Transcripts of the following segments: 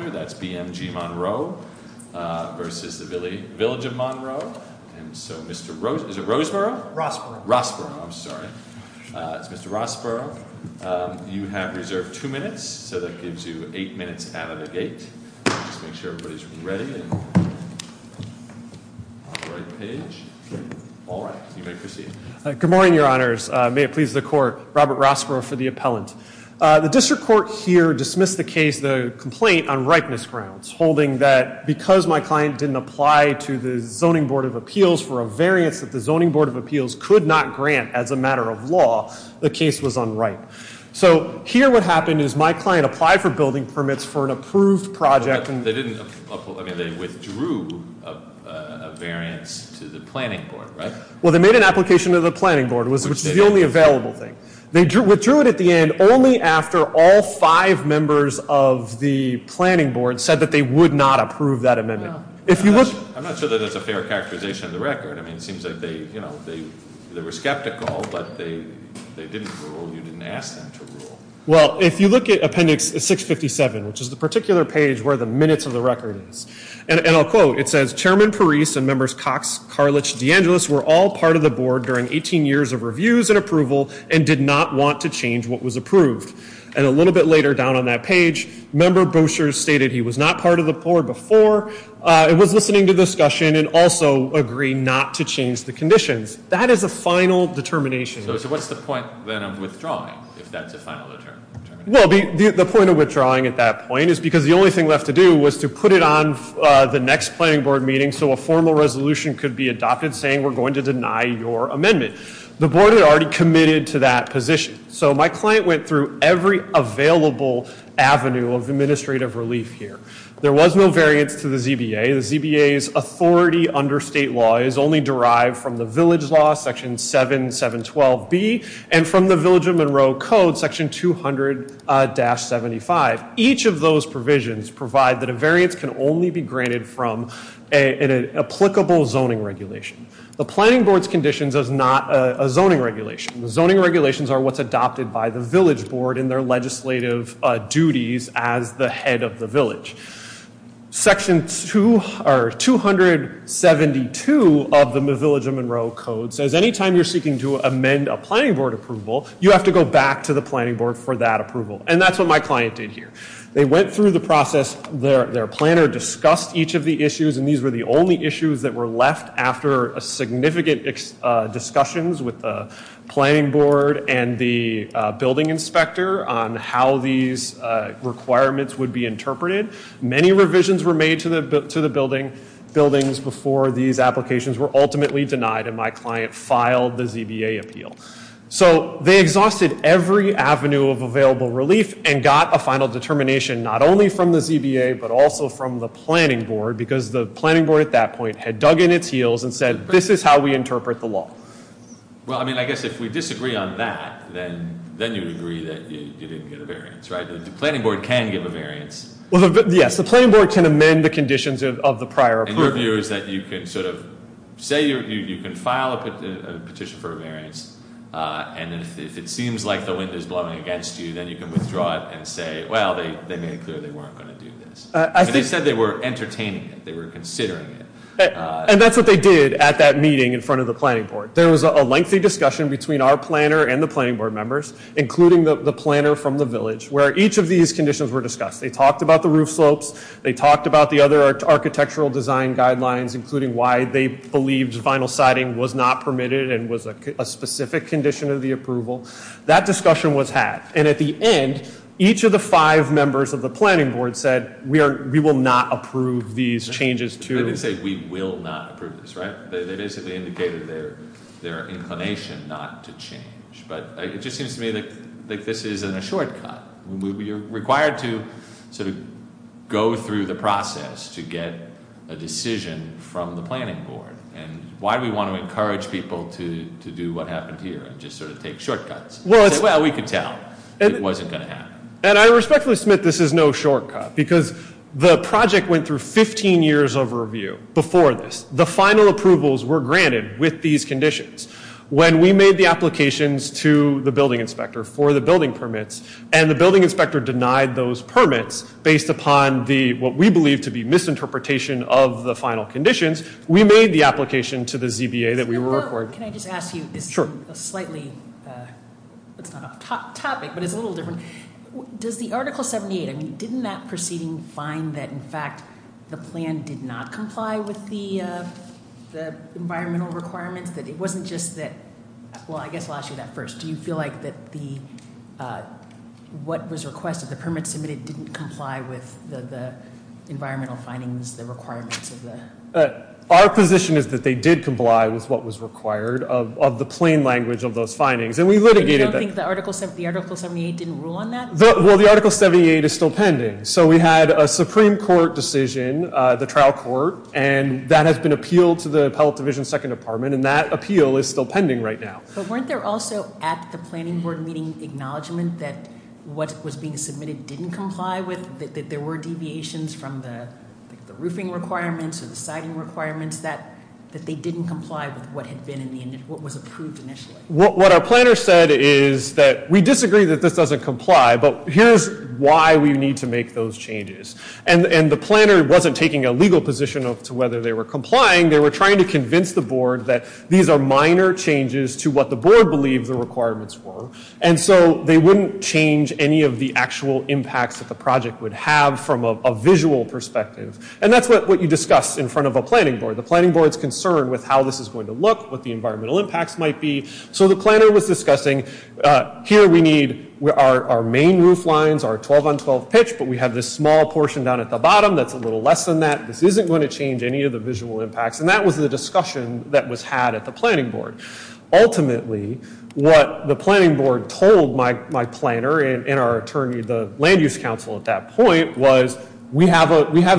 That's BMG Monroe versus the village of Monroe. And so, Mr. Rose, is it Roseboro? Rossboro. Rossboro. I'm sorry. It's Mr. Rossboro. You have reserved two minutes. So that gives you eight minutes out of the gate. Just make sure everybody's ready. On the right page. All right. You may proceed. Good morning, Your Honors. May it please the Court. Robert Rossboro for the appellant. The district court here dismissed the case, the complaint, on ripeness grounds, holding that because my client didn't apply to the Zoning Board of Appeals for a variance that the Zoning Board of Appeals could not grant as a matter of law, the case was unripe. So here what happened is my client applied for building permits for an approved project. They didn't, I mean, they withdrew a variance to the planning board, right? Well, they made an application to the planning board, which is the only available thing. They withdrew it at the end only after all five members of the planning board said that they would not approve that amendment. I'm not sure that that's a fair characterization of the record. I mean, it seems like they were skeptical, but they didn't rule. You didn't ask them to rule. Well, if you look at Appendix 657, which is the particular page where the minutes of the record is, and I'll quote, it says, Chairman Parise and members Cox, Karlich, DeAngelis were all part of the board during 18 years of reviews and approval and did not want to change what was approved. And a little bit later down on that page, member Boucher stated he was not part of the board before, was listening to discussion, and also agreed not to change the conditions. That is a final determination. So what's the point then of withdrawing, if that's a final determination? Well, the point of withdrawing at that point is because the only thing left to do was to put it on the next planning board meeting so a formal resolution could be adopted saying we're going to deny your amendment. The board had already committed to that position. So my client went through every available avenue of administrative relief here. There was no variance to the ZBA. The ZBA's authority under state law is only derived from the village law, Section 7712B, and from the Village of Monroe Code, Section 200-75. Each of those provisions provide that a variance can only be granted from an applicable zoning regulation. The planning board's conditions is not a zoning regulation. Zoning regulations are what's adopted by the village board in their legislative duties as the head of the village. Section 272 of the Village of Monroe Code says anytime you're seeking to amend a planning board approval, you have to go back to the planning board for that approval. And that's what my client did here. They went through the process. Their planner discussed each of the issues, and these were the only issues that were left after significant discussions with the planning board and the building inspector on how these requirements would be interpreted. Many revisions were made to the buildings before these applications were ultimately denied, and my client filed the ZBA appeal. So they exhausted every avenue of available relief and got a final determination not only from the ZBA but also from the planning board, because the planning board at that point had dug in its heels and said, this is how we interpret the law. Well, I mean, I guess if we disagree on that, then you would agree that you didn't get a variance, right? The planning board can give a variance. Yes, the planning board can amend the conditions of the prior approval. And your view is that you can sort of say you can file a petition for a variance, and if it seems like the wind is blowing against you, then you can withdraw it and say, well, they made it clear they weren't going to do this. They said they were entertaining it. They were considering it. And that's what they did at that meeting in front of the planning board. There was a lengthy discussion between our planner and the planning board members, including the planner from the village, where each of these conditions were discussed. They talked about the roof slopes. They talked about the other architectural design guidelines, including why they believed vinyl siding was not permitted and was a specific condition of the approval. That discussion was had. And at the end, each of the five members of the planning board said, we will not approve these changes to- They didn't say we will not approve this, right? They basically indicated their inclination not to change. But it just seems to me like this isn't a shortcut. You're required to sort of go through the process to get a decision from the planning board. And why do we want to encourage people to do what happened here and just sort of take shortcuts? Well, we could tell it wasn't going to happen. And I respectfully submit this is no shortcut, because the project went through 15 years of review before this. The final approvals were granted with these conditions. When we made the applications to the building inspector for the building permits and the building inspector denied those permits based upon what we believe to be misinterpretation of the final conditions, we made the application to the ZBA that we were- Can I just ask you? Sure. It's a slightly- it's not a topic, but it's a little different. Does the Article 78- I mean, didn't that proceeding find that, in fact, the plan did not comply with the environmental requirements? That it wasn't just that- well, I guess I'll ask you that first. Do you feel like that the- what was requested, the permits submitted didn't comply with the environmental findings, the requirements of the- Our position is that they did comply with what was required of the plain language of those findings. And we litigated that. Do you think the Article 78 didn't rule on that? Well, the Article 78 is still pending. So we had a Supreme Court decision, the trial court, and that has been appealed to the Appellate Division Second Department, and that appeal is still pending right now. But weren't there also at the planning board meeting acknowledgment that what was being submitted didn't comply with, that there were deviations from the roofing requirements or the siding requirements, that they didn't comply with what had been in the- what was approved initially? What our planner said is that we disagree that this doesn't comply, but here's why we need to make those changes. And the planner wasn't taking a legal position as to whether they were complying. They were trying to convince the board that these are minor changes to what the board believed the requirements were. And so they wouldn't change any of the actual impacts that the project would have from a visual perspective. And that's what you discuss in front of a planning board. The planning board's concerned with how this is going to look, what the environmental impacts might be. So the planner was discussing, here we need our main roof lines, our 12 on 12 pitch, but we have this small portion down at the bottom that's a little less than that. This isn't going to change any of the visual impacts. And that was the discussion that was had at the planning board. Ultimately, what the planning board told my planner and our attorney, the land use council at that point, was we have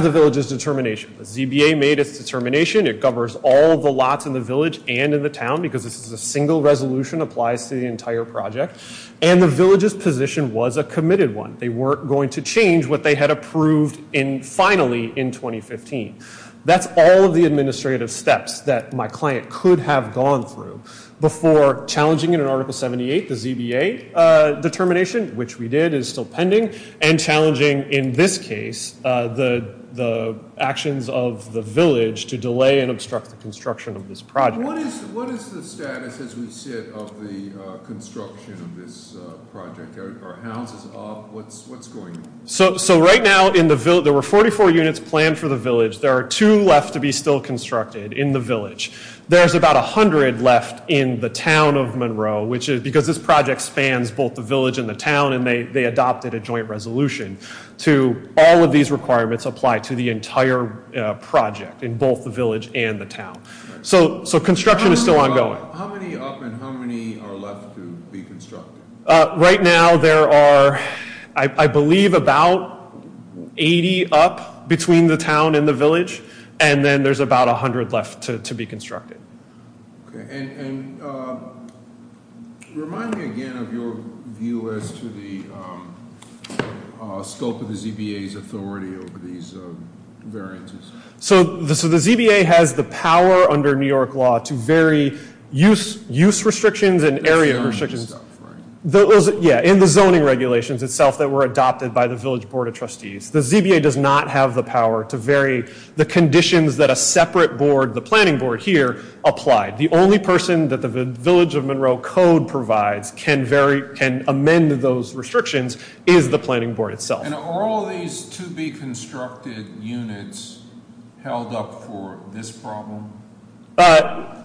the village's determination. The ZBA made its determination. It covers all the lots in the village and in the town because this is a single resolution, applies to the entire project. And the village's position was a committed one. They weren't going to change what they had approved finally in 2015. That's all of the administrative steps that my client could have gone through before challenging it in Article 78, the ZBA determination, which we did, is still pending. And challenging, in this case, the actions of the village to delay and obstruct the construction of this project. What is the status, as we said, of the construction of this project? Are houses off? What's going on? So right now, there were 44 units planned for the village. There are two left to be still constructed in the village. There's about 100 left in the town of Monroe because this project spans both the village and the town. And they adopted a joint resolution to all of these requirements apply to the entire project in both the village and the town. So construction is still ongoing. How many up and how many are left to be constructed? Right now, there are, I believe, about 80 up between the town and the village. And then there's about 100 left to be constructed. And remind me again of your view as to the scope of the ZBA's authority over these variances. So the ZBA has the power under New York law to vary use restrictions and area restrictions. Yeah, in the zoning regulations itself that were adopted by the village board of trustees. The ZBA does not have the power to vary the conditions that a separate board, the planning board here, applied. The only person that the village of Monroe code provides can amend those restrictions is the planning board itself. And are all these to be constructed units held up for this problem?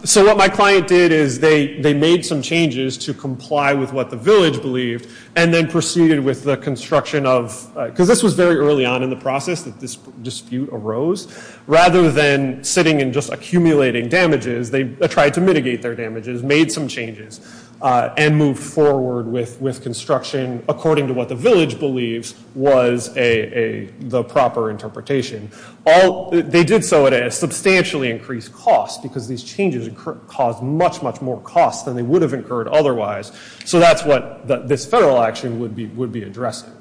So what my client did is they made some changes to comply with what the village believed. And then proceeded with the construction of, because this was very early on in the process that this dispute arose. Rather than sitting and just accumulating damages, they tried to mitigate their damages, made some changes. And move forward with construction according to what the village believes was the proper interpretation. They did so at a substantially increased cost, because these changes caused much, much more cost than they would have incurred otherwise. So that's what this federal action would be addressing.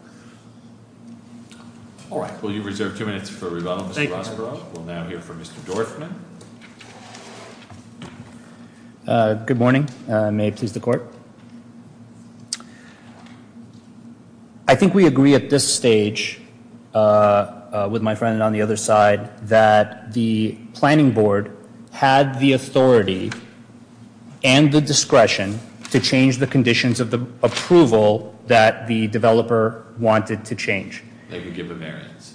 All right. Well, you've reserved two minutes for rebuttal. Thank you. We'll now hear from Mr. Dorfman. Good morning. May it please the court. I think we agree at this stage, with my friend on the other side, that the planning board had the authority and the discretion to change the conditions of the approval that the developer wanted to change. They could give a variance.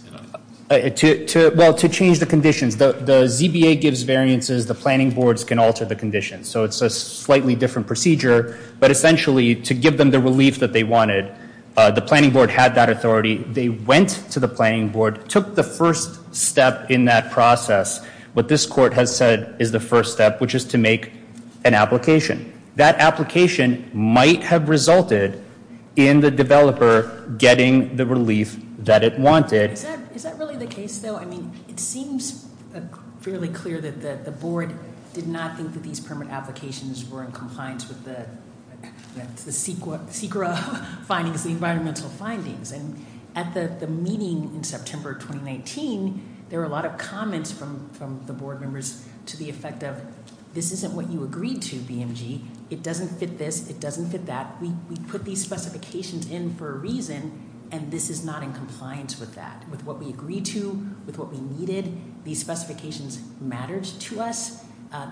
Well, to change the conditions. The ZBA gives variances. The planning boards can alter the conditions. So it's a slightly different procedure. But essentially, to give them the relief that they wanted, the planning board had that authority. They went to the planning board, took the first step in that process. What this court has said is the first step, which is to make an application. That application might have resulted in the developer getting the relief that it wanted. Is that really the case, though? It seems fairly clear that the board did not think that these permit applications were in compliance with the CEQA findings, the environmental findings. And at the meeting in September 2019, there were a lot of comments from the board members to the effect of this isn't what you agreed to, BMG. It doesn't fit this. It doesn't fit that. We put these specifications in for a reason, and this is not in compliance with that, with what we agreed to, with what we needed. These specifications mattered to us.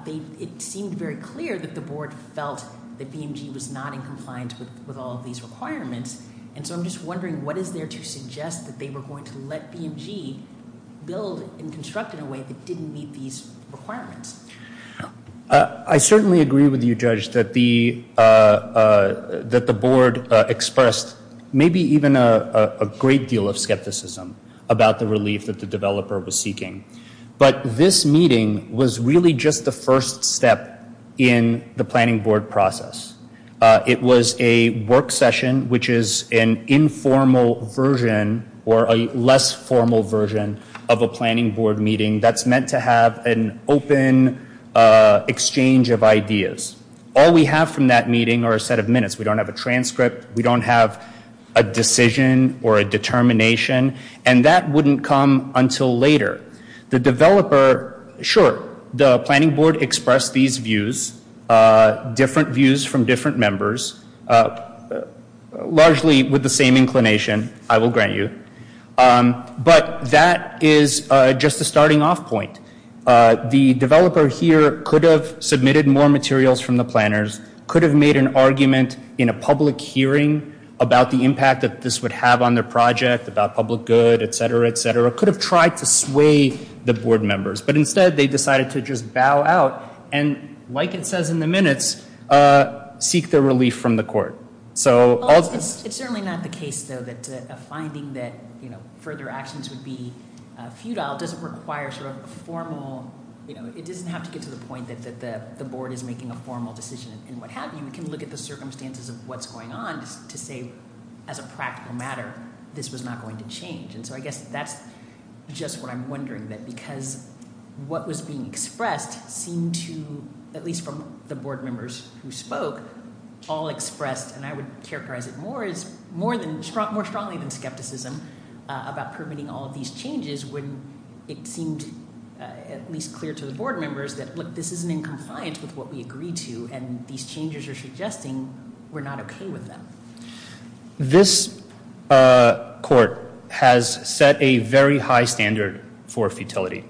It seemed very clear that the board felt that BMG was not in compliance with all of these requirements. And so I'm just wondering, what is there to suggest that they were going to let BMG build and construct in a way that didn't meet these requirements? I certainly agree with you, Judge, that the board expressed maybe even a great deal of skepticism about the relief that the developer was seeking. But this meeting was really just the first step in the planning board process. It was a work session, which is an informal version or a less formal version of a planning board meeting. That's meant to have an open exchange of ideas. All we have from that meeting are a set of minutes. We don't have a transcript. We don't have a decision or a determination. And that wouldn't come until later. The developer, sure, the planning board expressed these views, different views from different members, largely with the same inclination, I will grant you. But that is just a starting off point. The developer here could have submitted more materials from the planners, could have made an argument in a public hearing about the impact that this would have on their project, about public good, et cetera, et cetera. Could have tried to sway the board members. But instead, they decided to just bow out and, like it says in the minutes, seek their relief from the court. It's certainly not the case, though, that a finding that further actions would be futile doesn't require sort of a formal, you know, it doesn't have to get to the point that the board is making a formal decision and what have you. We can look at the circumstances of what's going on to say, as a practical matter, this was not going to change. And so I guess that's just what I'm wondering, that because what was being expressed seemed to, at least from the board members who spoke, all expressed, and I would characterize it more strongly than skepticism, about permitting all of these changes when it seemed at least clear to the board members that, look, this isn't in compliance with what we agreed to, and these changes are suggesting we're not okay with them. This court has set a very high standard for futility.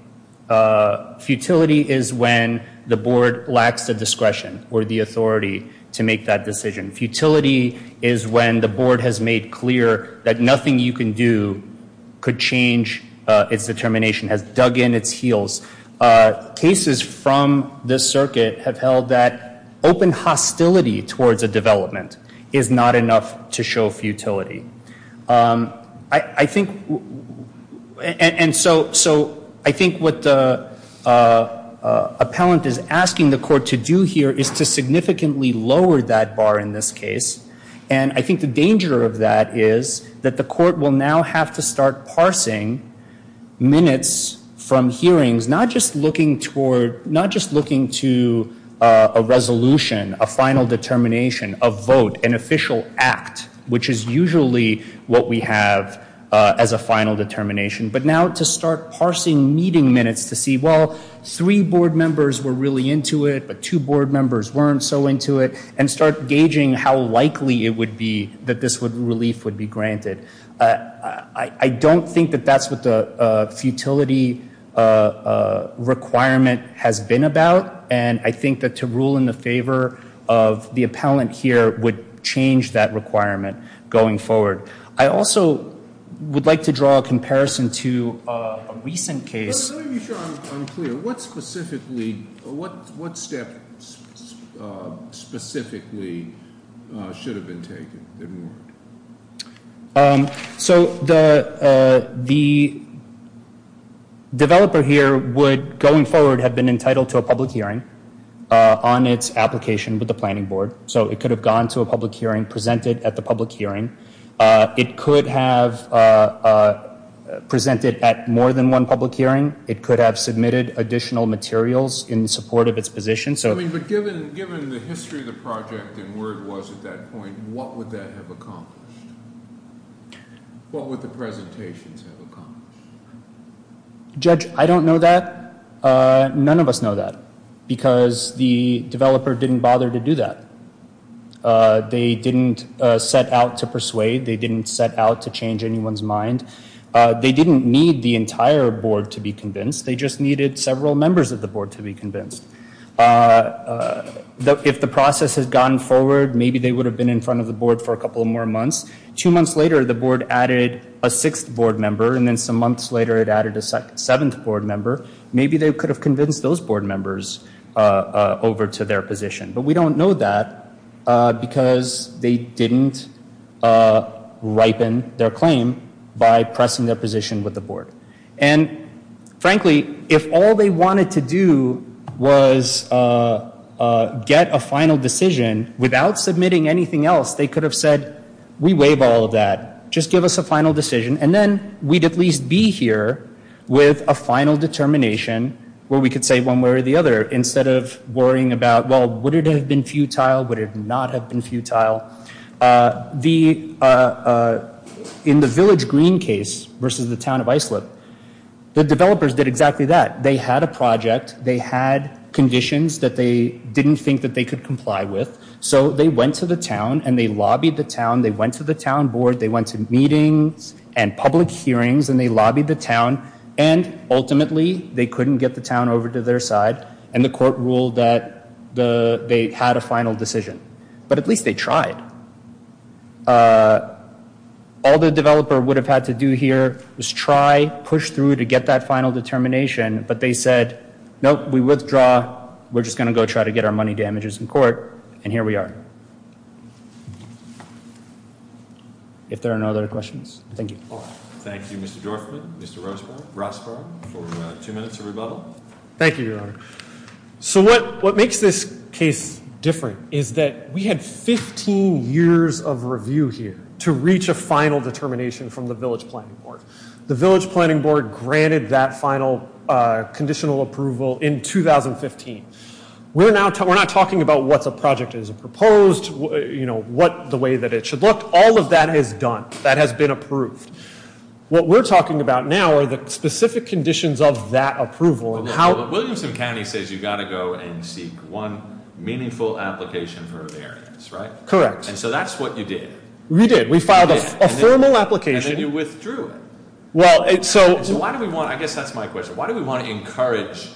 Futility is when the board lacks the discretion or the authority to make that decision. Futility is when the board has made clear that nothing you can do could change its determination, has dug in its heels. Cases from this circuit have held that open hostility towards a development is not enough to show futility. I think, and so I think what the appellant is asking the court to do here is to significantly lower that bar in this case. And I think the danger of that is that the court will now have to start parsing minutes from hearings, not just looking toward, not just looking to a resolution, a final determination, a vote, an official act, which is usually what we have as a final determination, but now to start parsing meeting minutes to see, well, three board members were really into it, but two board members weren't so into it, and start gauging how likely it would be that this relief would be granted. I don't think that that's what the futility requirement has been about, and I think that to rule in the favor of the appellant here would change that requirement going forward. I also would like to draw a comparison to a recent case. Let me be sure I'm clear. What specifically, what step specifically should have been taken? So the developer here would going forward have been entitled to a public hearing on its application with the planning board. So it could have gone to a public hearing, presented at the public hearing. It could have presented at more than one public hearing. It could have submitted additional materials in support of its position. But given the history of the project and where it was at that point, what would that have accomplished? What would the presentations have accomplished? Judge, I don't know that. None of us know that, because the developer didn't bother to do that. They didn't set out to persuade. They didn't set out to change anyone's mind. They didn't need the entire board to be convinced. They just needed several members of the board to be convinced. If the process had gone forward, maybe they would have been in front of the board for a couple more months. Two months later, the board added a sixth board member, and then some months later it added a seventh board member. Maybe they could have convinced those board members over to their position. But we don't know that, because they didn't ripen their claim by pressing their position with the board. And frankly, if all they wanted to do was get a final decision without submitting anything else, they could have said, we waive all of that. Just give us a final decision. And then we'd at least be here with a final determination where we could say one way or the other, instead of worrying about, well, would it have been futile? Would it not have been futile? In the Village Green case versus the town of Islip, the developers did exactly that. They had a project. They had conditions that they didn't think that they could comply with. So they went to the town, and they lobbied the town. They went to the town board. They went to meetings and public hearings, and they lobbied the town. And ultimately, they couldn't get the town over to their side, and the court ruled that they had a final decision. But at least they tried. All the developer would have had to do here was try, push through to get that final determination. But they said, nope, we withdraw. We're just going to go try to get our money damages in court. And here we are. If there are no other questions, thank you. Thank you, Mr. Dorfman. Mr. Rossborough, for two minutes of rebuttal. Thank you, Your Honor. So what makes this case different is that we had 15 years of review here to reach a final determination from the village planning board. The village planning board granted that final conditional approval in 2015. We're not talking about what the project is proposed, what the way that it should look. All of that is done. That has been approved. What we're talking about now are the specific conditions of that approval. Williamson County says you've got to go and seek one meaningful application for a variance, right? Correct. And so that's what you did. We did. We filed a formal application. And then you withdrew it. Well, so- So why do we want, I guess that's my question. Why do we want to encourage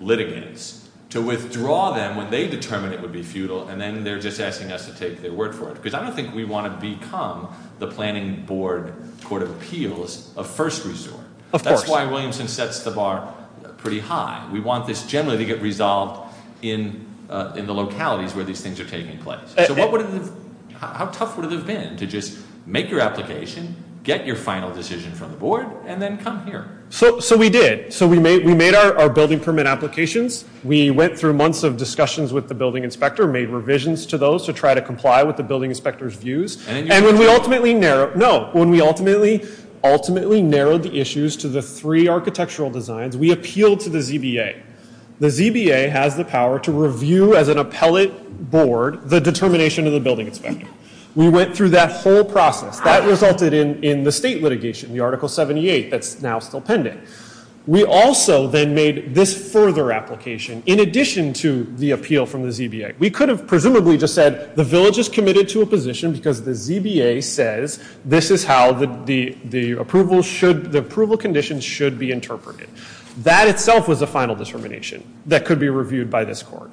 litigants to withdraw them when they determine it would be futile and then they're just asking us to take their word for it? Because I don't think we want to become the planning board court of appeals a first resort. Of course. That's why Williamson sets the bar pretty high. We want this generally to get resolved in the localities where these things are taking place. How tough would it have been to just make your application, get your final decision from the board, and then come here? So we did. So we made our building permit applications. We went through months of discussions with the building inspector, made revisions to those to try to comply with the building inspector's views. And then you withdrew it. No. When we ultimately narrowed the issues to the three architectural designs, we appealed to the ZBA. The ZBA has the power to review as an appellate board the determination of the building inspector. We went through that whole process. That resulted in the state litigation, the article 78 that's now still pending. We also then made this further application in addition to the appeal from the ZBA. We could have presumably just said the village is committed to a position because the ZBA says this is how the approval should- the approval conditions should be interpreted. That itself was a final determination that could be reviewed by this court.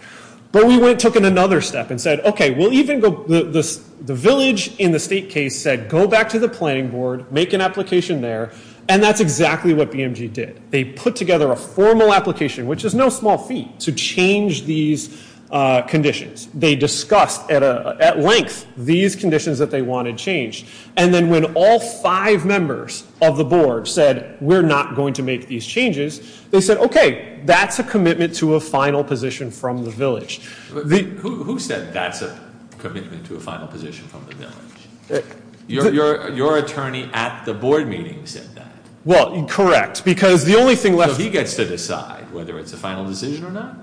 But we went and took another step and said, okay, we'll even go- the village in the state case said go back to the planning board, make an application there, and that's exactly what BMG did. They put together a formal application, which is no small feat, to change these conditions. They discussed at length these conditions that they wanted changed. And then when all five members of the board said we're not going to make these changes, they said, okay, that's a commitment to a final position from the village. Who said that's a commitment to a final position from the village? Your attorney at the board meeting said that. Well, correct, because the only thing left- So he gets to decide whether it's a final decision or not?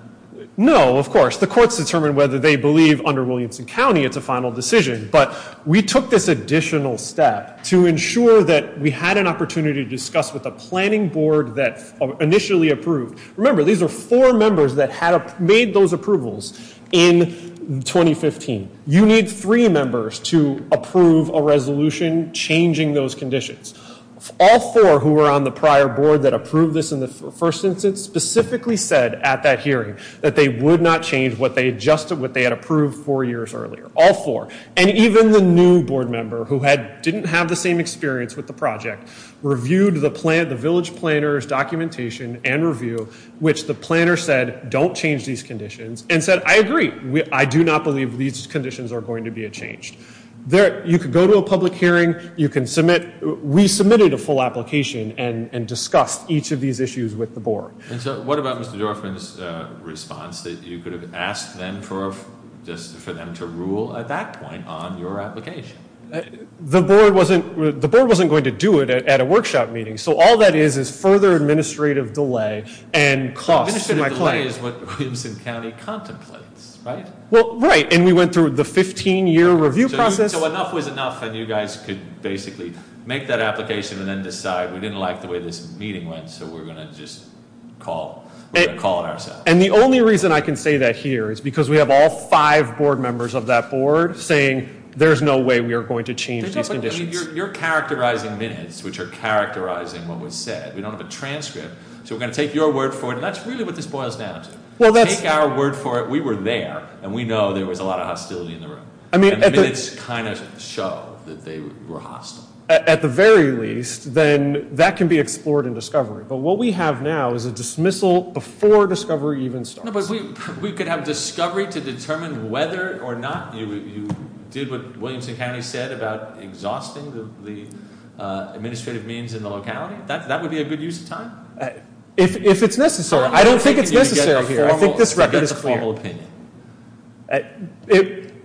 No, of course. The courts determine whether they believe under Williamson County it's a final decision. But we took this additional step to ensure that we had an opportunity to discuss with the planning board that initially approved. Remember, these are four members that made those approvals in 2015. You need three members to approve a resolution changing those conditions. All four who were on the prior board that approved this in the first instance specifically said at that hearing that they would not change what they had approved four years earlier. All four. And even the new board member who didn't have the same experience with the project reviewed the village planner's documentation and review, which the planner said don't change these conditions and said, I agree. I do not believe these conditions are going to be changed. You can go to a public hearing. You can submit. We submitted a full application and discussed each of these issues with the board. And so what about Mr. Dorfman's response that you could have asked them for just for them to rule at that point on your application? The board wasn't the board wasn't going to do it at a workshop meeting. So all that is is further administrative delay and cost. That is what Williamson County contemplates. Right. Well, right. And we went through the 15 year review process. So enough was enough. And you guys could basically make that application and then decide we didn't like the way this meeting went. So we're going to just call a call. And the only reason I can say that here is because we have all five board members of that board saying there's no way we are going to change these conditions. You're characterizing minutes which are characterizing what was said. We don't have a transcript. So we're going to take your word for it. That's really what this boils down to. Well, that's our word for it. We were there and we know there was a lot of hostility in the room. I mean, it's kind of show that they were hostile. At the very least, then that can be explored in discovery. But what we have now is a dismissal before discovery even starts. We could have discovery to determine whether or not you did what Williamson County said about exhausting the administrative means in the locality. That would be a good use of time. If it's necessary. I don't think it's necessary here. I think this record is a formal opinion.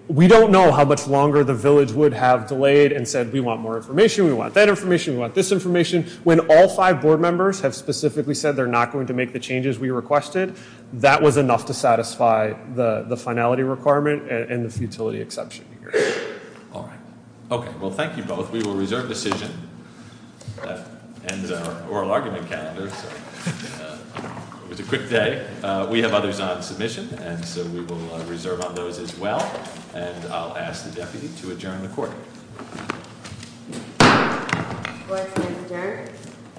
We don't know how much longer the village would have delayed and said we want more information. We want that information. We want this information. When all five board members have specifically said they're not going to make the changes we requested. That was enough to satisfy the finality requirement and the futility exception. All right. OK. Well, thank you both. We will reserve decision and oral argument. It was a quick day. We have others on submission. And so we will reserve on those as well. And I'll ask the deputy to adjourn the court.